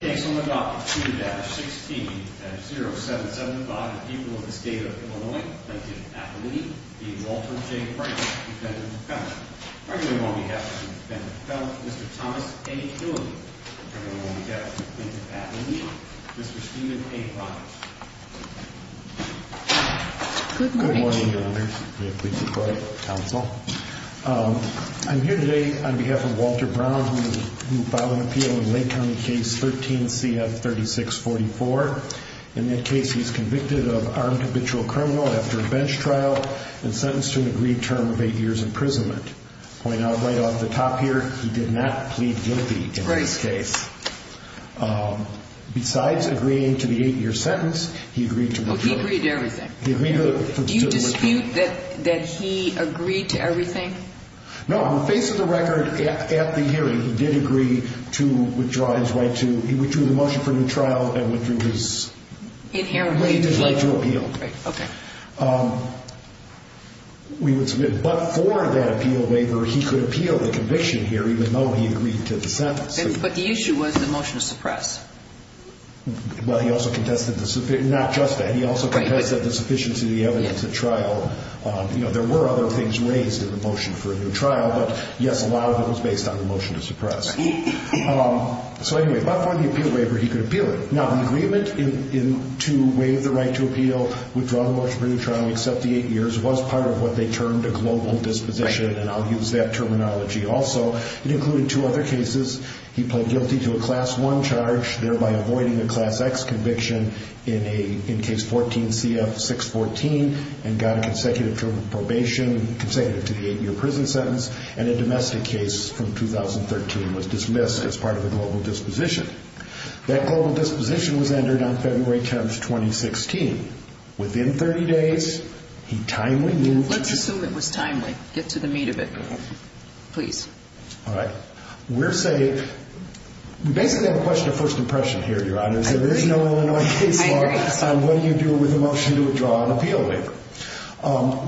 on behalf of the people of the state of Illinois, thank you for being Walter J. Frank, Mr. Thomas H. Newman. Mr. Stephen A. Rogers. Good morning, Your Honor. May it please the Court, Counsel. I'm here today on behalf of Walter Brown, who filed an appeal in Lake County Case 13-CF3644. In that case, he's convicted of armed habitual criminal after a bench trial and sentenced to an agreed term of eight years' imprisonment. Point out right off the top here, he did not plead guilty in this case. Besides agreeing to the eight-year sentence, he agreed to... He agreed to everything. Do you dispute that he agreed to everything? No. On the face of the record, at the hearing, he did agree to withdraw his right to... He withdrew the motion for a new trial and withdrew his... Inherent right to appeal. Right, okay. But for that appeal waiver, he could appeal the conviction here, even though he agreed to the sentence. But the issue was the motion to suppress. Well, he also contested the... Not just that. He also contested the sufficiency of the evidence at trial. There were other things raised in the motion for a new trial, but, yes, a lot of it was based on the motion to suppress. So, anyway, but for the appeal waiver, he could appeal it. Now, the agreement to waive the right to appeal, withdraw the motion for a new trial and accept the eight years was part of what they termed a global disposition, and I'll use that terminology also. It included two other cases. He pled guilty to a Class I charge, thereby avoiding a Class X conviction in Case 14-CF-614 and got a consecutive probation, consecutive to the eight-year prison sentence, and a domestic case from 2013 was dismissed as part of a global disposition. That global disposition was entered on February 10th, 2016. Within 30 days, he timely moved to... Let's assume it was timely. Get to the meat of it. Please. All right. We're saying... We basically have a question of first impression here, Your Honors. There is no Illinois case law. What do you do with a motion to withdraw an appeal waiver?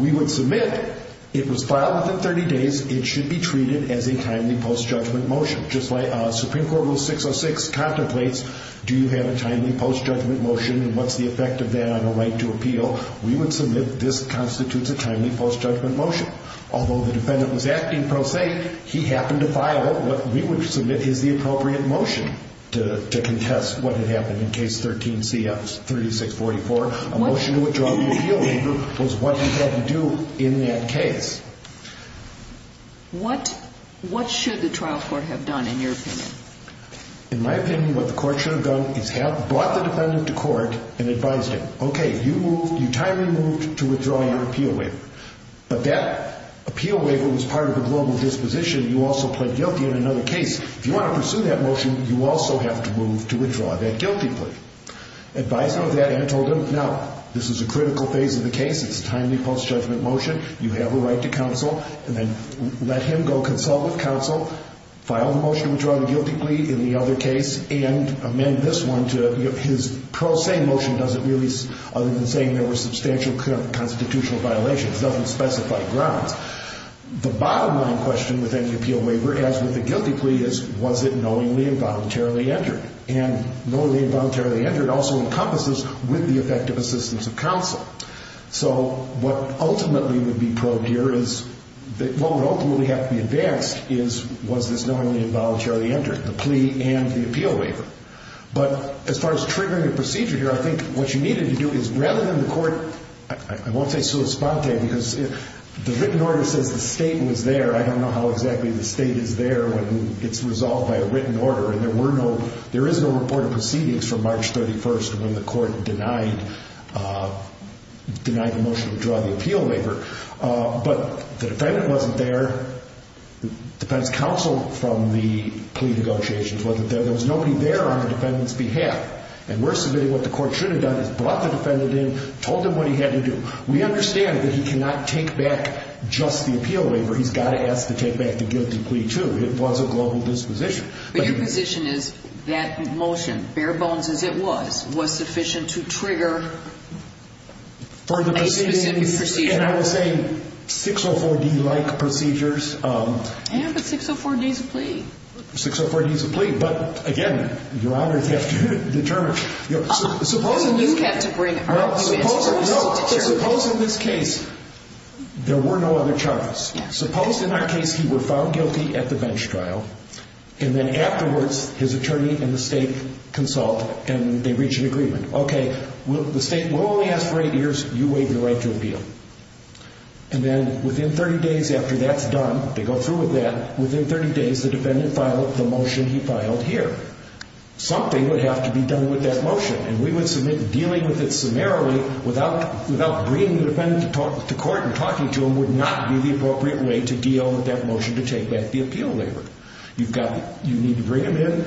We would submit it was filed within 30 days. It should be treated as a timely post-judgment motion. Just like Supreme Court Rule 606 contemplates, do you have a timely post-judgment motion, and what's the effect of that on a right to appeal? We would submit this constitutes a timely post-judgment motion. Although the defendant was acting pro se, he happened to file what we would submit is the appropriate motion to contest what had happened in Case 13-CF-3644. A motion to withdraw the appeal waiver was what he had to do in that case. What should the trial court have done, in your opinion? In my opinion, what the court should have done is have brought the defendant to court and advised him, okay, you timely moved to withdraw your appeal waiver. But that appeal waiver was part of the global disposition. You also pled guilty in another case. If you want to pursue that motion, you also have to move to withdraw that guilty plea. Advise him of that and told him, no, this is a critical phase of the case. It's a timely post-judgment motion. You have a right to counsel, and then let him go consult with counsel, file the motion to withdraw the guilty plea in the other case, and amend this one to his pro se motion, other than saying there were substantial constitutional violations. It doesn't specify grounds. The bottom line question with any appeal waiver, as with the guilty plea, is was it knowingly and voluntarily entered? And knowingly and voluntarily entered also encompasses with the effect of assistance of counsel. So what ultimately would be probed here is, what would ultimately have to be advanced is, was this knowingly and voluntarily entered? The plea and the appeal waiver. But as far as triggering a procedure here, I think what you needed to do is, rather than the court, I won't say sua sponte because the written order says the state was there. I don't know how exactly the state is there when it's resolved by a written order, and there is no report of proceedings from March 31st when the court denied the motion to withdraw the appeal waiver. But the defendant wasn't there. The defense counsel from the plea negotiations wasn't there. There was nobody there on the defendant's behalf. And we're submitting what the court should have done is brought the defendant in, told him what he had to do. We understand that he cannot take back just the appeal waiver. He's got to ask to take back the guilty plea, too. It was a global disposition. But your position is that motion, bare bones as it was, was sufficient to trigger a specific procedure? And I was saying 604-D-like procedures. Yeah, but 604-D is a plea. 604-D is a plea. But, again, your honors have to determine. You have to bring our human services attorney. Suppose in this case there were no other charges. Suppose in that case he were found guilty at the bench trial, Okay, the state will only ask for eight years. You waive the right to appeal. And then within 30 days after that's done, they go through with that. Within 30 days, the defendant filed the motion he filed here. Something would have to be done with that motion. And we would submit dealing with it summarily without bringing the defendant to court and talking to him would not be the appropriate way to deal with that motion to take back the appeal waiver. You need to bring him in.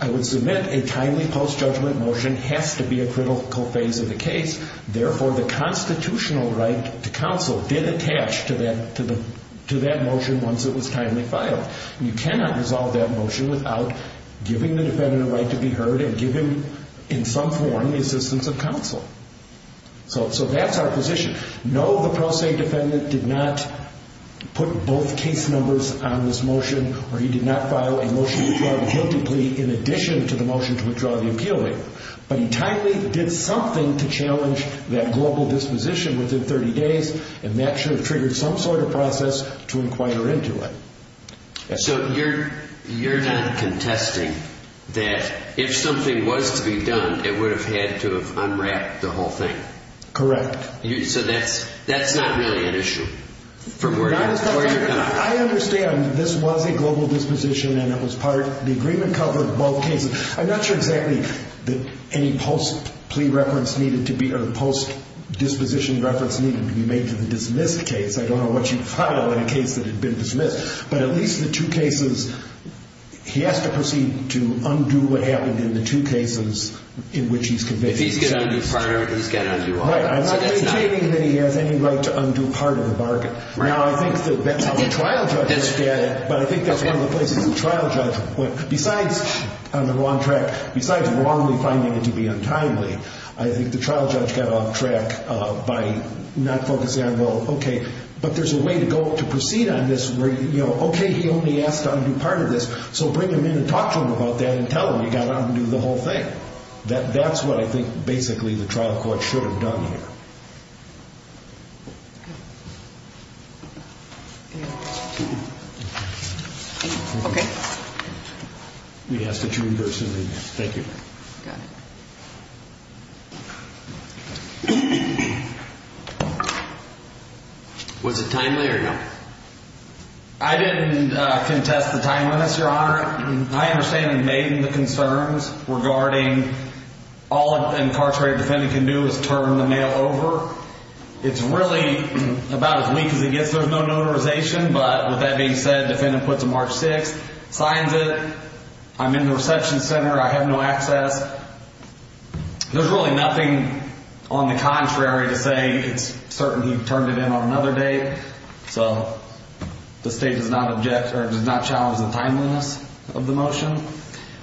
I would submit a timely post-judgment motion has to be a critical phase of the case. Therefore, the constitutional right to counsel did attach to that motion once it was timely filed. You cannot resolve that motion without giving the defendant a right to be heard and giving, in some form, the assistance of counsel. So that's our position. No, the pro se defendant did not put both case numbers on this motion or he did not file a motion to withdraw the guilty plea in addition to the motion to withdraw the appeal waiver. But he timely did something to challenge that global disposition within 30 days, and that should have triggered some sort of process to inquire into it. So you're not contesting that if something was to be done, it would have had to have unwrapped the whole thing? Correct. So that's not really an issue? I understand this was a global disposition and it was part of the agreement covering both cases. I'm not sure exactly that any post-plea reference needed to be or post-disposition reference needed to be made to the dismissed case. I don't know what you'd file in a case that had been dismissed. But at least the two cases, he has to proceed to undo what happened in the two cases in which he's convicted. If he's going to undo part of it, he's going to undo all of it. I'm not advocating that he has any right to undo part of the bargain. Now, I think that's how the trial judges get it, but I think that's one of the places the trial judge, besides on the wrong track, besides wrongly finding it to be untimely, I think the trial judge got off track by not focusing on, well, okay, but there's a way to proceed on this where, you know, okay, he only asked to undo part of this, so bring him in and talk to him about that and tell him he got to undo the whole thing. That's what I think basically the trial court should have done here. Okay. We ask that you reimburse him immediately. Thank you. Got it. Was it timely or no? I didn't contest the timeliness, Your Honor. I understand and made the concerns regarding all an incarcerated defendant can do is turn the mail over. It's really about as weak as it gets. There's no notarization, but with that being said, defendant puts a March 6th, signs it. I'm in the reception center. I have no access. There's really nothing on the contrary to say it's certain he turned it in on another date. So the state does not object or does not challenge the timeliness of the motion.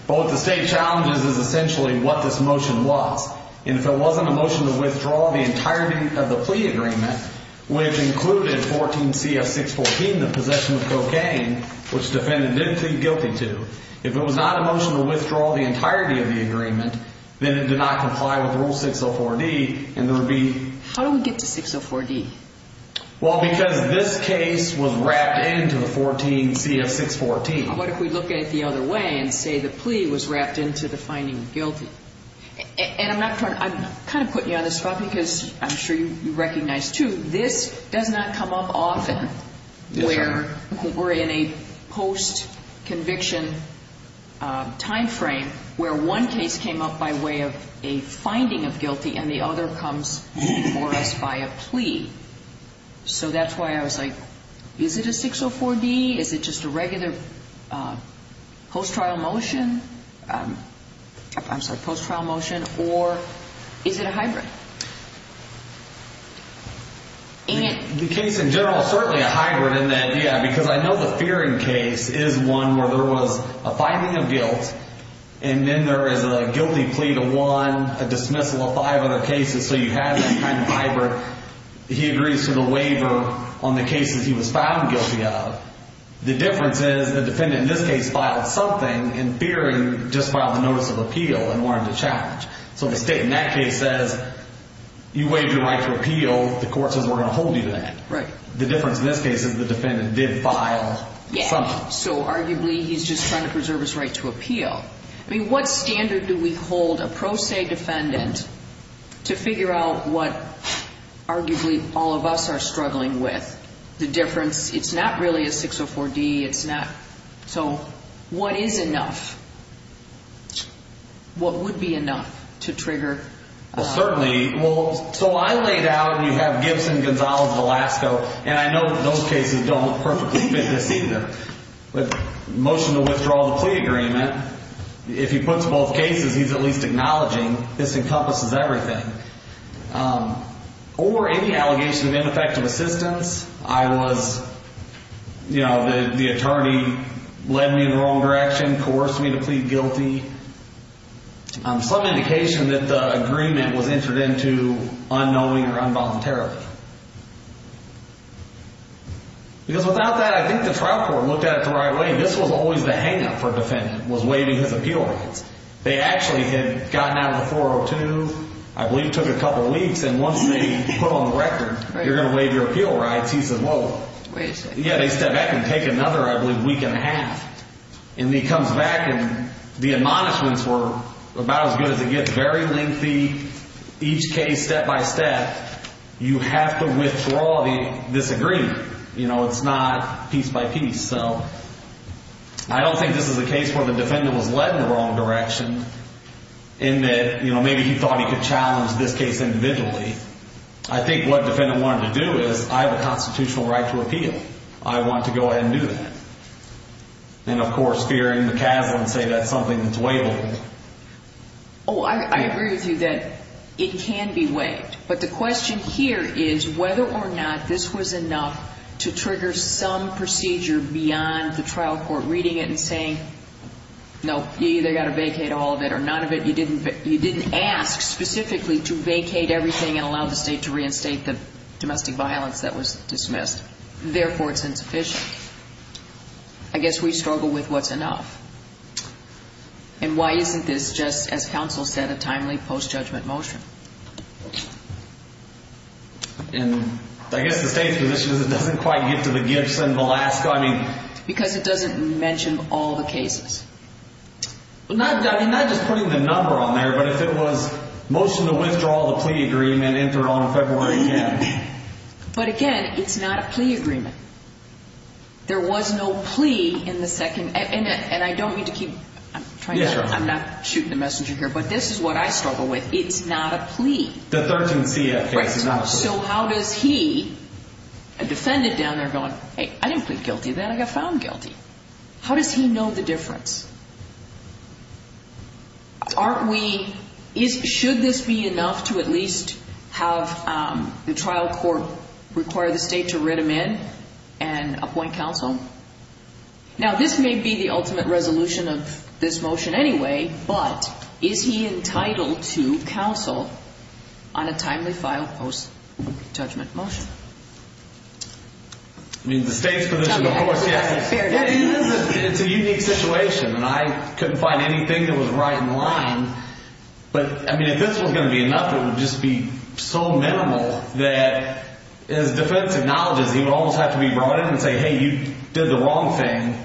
But what the state challenges is essentially what this motion was. And if it wasn't a motion to withdraw the entirety of the plea agreement, which included 14 CF 614, the possession of cocaine, which defendant didn't plead guilty to, if it was not a motion to withdraw the entirety of the agreement, then it did not comply with Rule 604D, and there would be... How do we get to 604D? Well, because this case was wrapped into the 14 CF 614. What if we look at it the other way and say the plea was wrapped into the finding of guilty? And I'm kind of putting you on the spot because I'm sure you recognize, too, this does not come up often where we're in a post-conviction time frame where one case came up by way of a finding of guilty and the other comes before us by a plea. So that's why I was like, is it a 604D? Is it just a regular post-trial motion? I'm sorry, post-trial motion? Or is it a hybrid? The case in general is certainly a hybrid in that, yeah, because I know the Fearing case is one where there was a finding of guilt, and then there is a guilty plea to one, a dismissal of five other cases. So you have that kind of hybrid. He agrees to the waiver on the cases he was found guilty of. The difference is the defendant in this case filed something, and Fearing just filed a notice of appeal and wanted to challenge. So the state in that case says, you waived your right to appeal. The court says we're going to hold you to that. The difference in this case is the defendant did file something. So arguably he's just trying to preserve his right to appeal. I mean, what standard do we hold a pro se defendant to figure out what arguably all of us are struggling with? The difference, it's not really a 604D. It's not. So what is enough? What would be enough to trigger? Well, certainly. Well, so I laid out and you have Gibson, Gonzalez, Velasco, and I know those cases don't perfectly fit this either. But motion to withdraw the plea agreement, if he puts both cases he's at least acknowledging this encompasses everything. Or any allegation of ineffective assistance. I was, you know, the attorney led me in the wrong direction, coerced me to plead guilty. Some indication that the agreement was entered into unknowing or involuntarily. Because without that, I think the trial court looked at it the right way. This was always the hang up for a defendant, was waiving his appeal rights. They actually had gotten out of the 402, I believe took a couple weeks, and once they put on the record you're going to waive your appeal rights, he said, whoa. Yeah, they step back and take another, I believe, week and a half. And he comes back and the admonishments were about as good as it gets. Very lengthy. Each case step by step. You have to withdraw this agreement. You know, it's not piece by piece. So I don't think this is a case where the defendant was led in the wrong direction. In that, you know, maybe he thought he could challenge this case individually. I think what the defendant wanted to do is, I have a constitutional right to appeal. I want to go ahead and do that. And, of course, fearing the castle and say that's something that's waivable. Oh, I agree with you that it can be waived. But the question here is whether or not this was enough to trigger some procedure beyond the trial court reading it and saying, no, you either got to vacate all of it or none of it, you didn't ask specifically to vacate everything and allow the state to reinstate the domestic violence that was dismissed. Therefore, it's insufficient. I guess we struggle with what's enough. And why isn't this just, as counsel said, a timely post-judgment motion? I guess the state's position is it doesn't quite get to the gifts and the last gunning. Because it doesn't mention all the cases. Not just putting the number on there, but if it was motion to withdraw the plea agreement entered on February 10th. But, again, it's not a plea agreement. There was no plea in the second. And I don't mean to keep trying to, I'm not shooting the messenger here, but this is what I struggle with. It's not a plea. The 13 CF case is not a plea. So how does he, a defendant down there going, hey, I didn't plead guilty then. I got found guilty. How does he know the difference? Aren't we, should this be enough to at least have the trial court require the state to write him in and appoint counsel? Now, this may be the ultimate resolution of this motion anyway, but is he entitled to counsel on a timely file post-judgment motion? I mean, the state's position, of course, yeah. It's a unique situation. And I couldn't find anything that was right in line. But, I mean, if this was going to be enough, it would just be so minimal that as defense acknowledges, he would almost have to be brought in and say, hey, you did the wrong thing.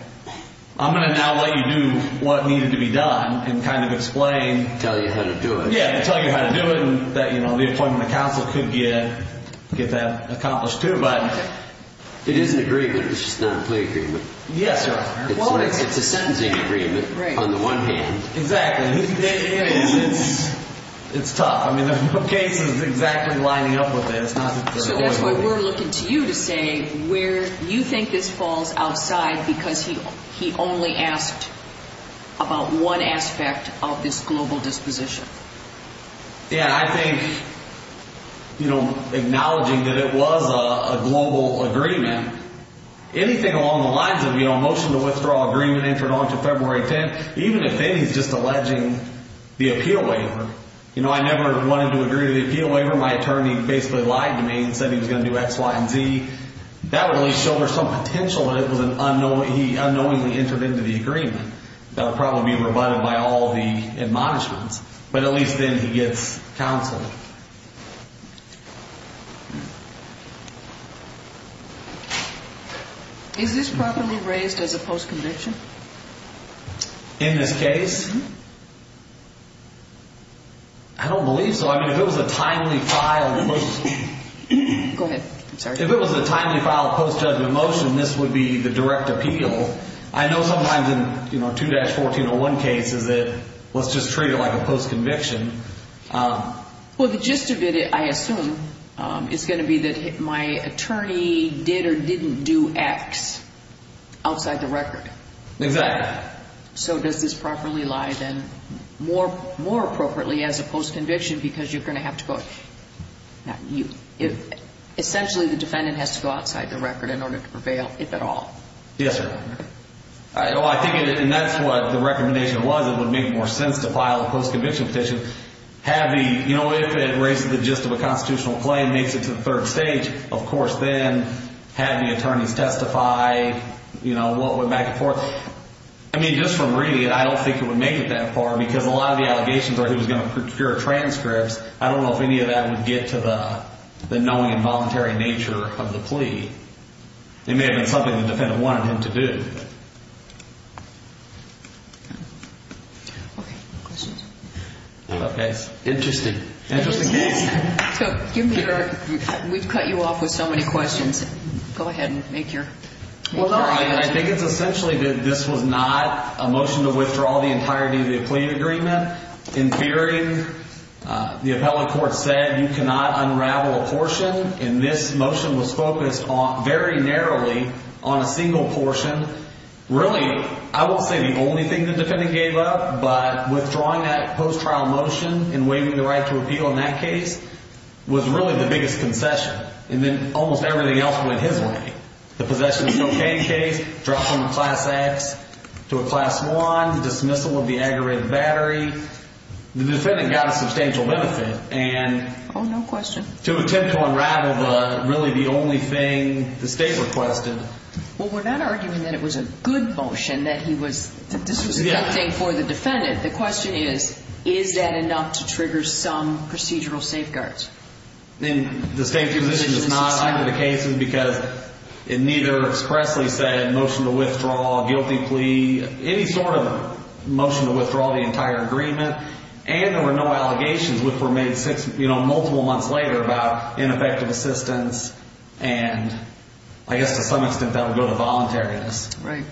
I'm going to now let you do what needed to be done and kind of explain. Tell you how to do it. Yeah, tell you how to do it and that, you know, the appointment of counsel could get that accomplished too. But it is an agreement. It's just not a plea agreement. Yes, sir. It's a sentencing agreement on the one hand. Exactly. And it's tough. I mean, there are no cases exactly lining up with this. So that's why we're looking to you to say where you think this falls outside because he only asked about one aspect of this global disposition. Yeah, I think, you know, acknowledging that it was a global agreement, anything along the lines of, you know, a motion to withdraw agreement entered onto February 10th, even if then he's just alleging the appeal waiver. You know, I never wanted to agree to the appeal waiver. My attorney basically lied to me and said he was going to do X, Y, and Z. That would at least show there's some potential that he unknowingly entered into the agreement. That would probably be rebutted by all the admonishments. But at least then he gets counsel. Is this properly raised as a post-conviction? In this case? I don't believe so. I mean, if it was a timely filed post-judgment motion, this would be the direct appeal. I know sometimes in, you know, 2-1401 cases that let's just treat it like a post-conviction. Well, the gist of it, I assume, is going to be that my attorney did or didn't do X outside the record. Exactly. So does this properly lie then more appropriately as a post-conviction because you're going to have to go, essentially the defendant has to go outside the record in order to prevail, if at all? Yes, sir. I think that's what the recommendation was. It would make more sense to file a post-conviction petition if it raises the gist of a constitutional claim, makes it to the third stage, of course, then have the attorneys testify, you know, what went back and forth. I mean, just from reading it, I don't think it would make it that far because a lot of the allegations are he was going to procure transcripts. I don't know if any of that would get to the knowing and voluntary nature of the plea. It may have been something the defendant wanted him to do. Okay. Questions? Okay. Interesting. Interesting case. We've cut you off with so many questions. Go ahead and make your argument. Well, no. I think it's essentially that this was not a motion to withdraw the entirety of the plea agreement. In theory, the appellate court said you cannot unravel a portion, and this motion was focused very narrowly on a single portion Really, I won't say the only thing the defendant gave up, but withdrawing that post-trial motion and waiving the right to appeal in that case was really the biggest concession. And then almost everything else went his way. The possession of cocaine case, dropping a Class X to a Class I, the dismissal of the aggravated battery. The defendant got a substantial benefit. Oh, no question. And to attempt to unravel really the only thing the state requested. Well, we're not arguing that it was a good motion, that this was a good thing for the defendant. The question is, is that enough to trigger some procedural safeguards? The state position is not under the cases because it neither expressly said motion to withdraw, guilty plea, any sort of motion to withdraw the entire agreement, and there were no allegations which were made multiple months later about ineffective assistance And I guess to some extent that would go to voluntariness. Right.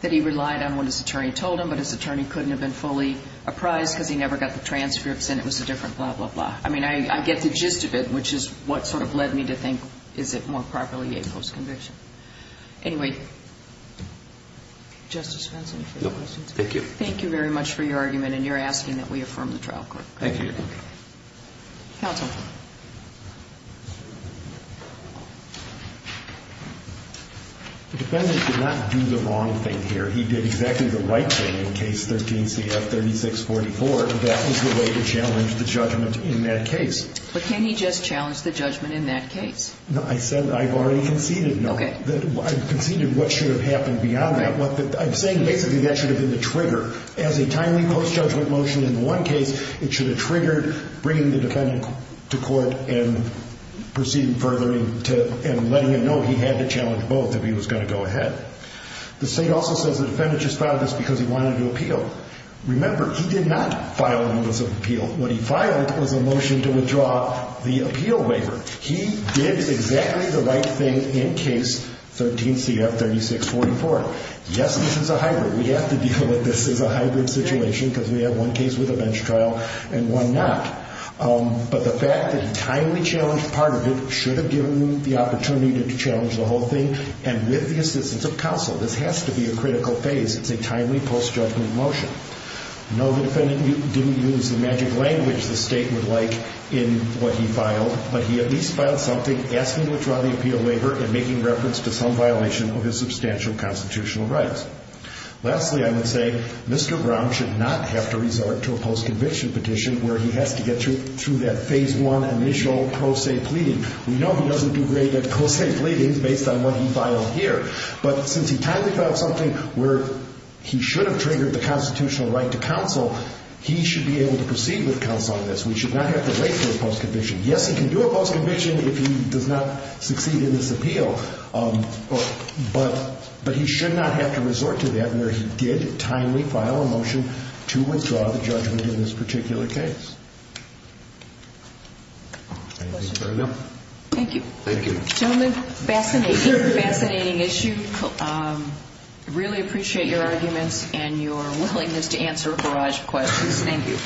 That he relied on what his attorney told him, but his attorney couldn't have been fully apprised because he never got the transcripts and it was a different blah, blah, blah. I mean, I get the gist of it, which is what sort of led me to think, is it more properly a post-conviction? Anyway, Justice Fentz, any further questions? Thank you. Thank you very much for your argument, and you're asking that we affirm the trial court. Thank you. Counsel. The defendant did not do the wrong thing here. He did exactly the right thing in Case 13-CF-3644. That was the way to challenge the judgment in that case. But can he just challenge the judgment in that case? I said I've already conceded. Okay. I've conceded what should have happened beyond that. I'm saying basically that should have been the trigger. As a timely post-judgment motion in one case, it should have triggered bringing the defendant to court and proceeding further and letting him know he had to challenge both if he was going to go ahead. The state also says the defendant just filed this because he wanted to appeal. Remember, he did not file an illicit appeal. What he filed was a motion to withdraw the appeal waiver. He did exactly the right thing in Case 13-CF-3644. Yes, this is a hybrid. We have to deal with this as a hybrid situation because we have one case with a bench trial and one not. But the fact that he timely challenged part of it should have given him the opportunity to challenge the whole thing and with the assistance of counsel. This has to be a critical phase. It's a timely post-judgment motion. No, the defendant didn't use the magic language the state would like in what he filed, but he at least filed something asking to withdraw the appeal waiver and making reference to some violation of his substantial constitutional rights. Lastly, I would say Mr. Brown should not have to resort to a post-conviction petition where he has to get through that Phase 1 initial pro se pleading. We know he doesn't do great at pro se pleadings based on what he filed here, but since he timely filed something where he should have triggered the constitutional right to counsel, he should be able to proceed with counsel on this. We should not have to wait for a post-conviction. Yes, he can do a post-conviction if he does not succeed in this appeal, but he should not have to resort to that where he did timely file a motion to withdraw the judgment in this particular case. Any questions? Thank you. Thank you. Gentlemen, fascinating, fascinating issue. Really appreciate your arguments and your willingness to answer a barrage of questions. Thank you.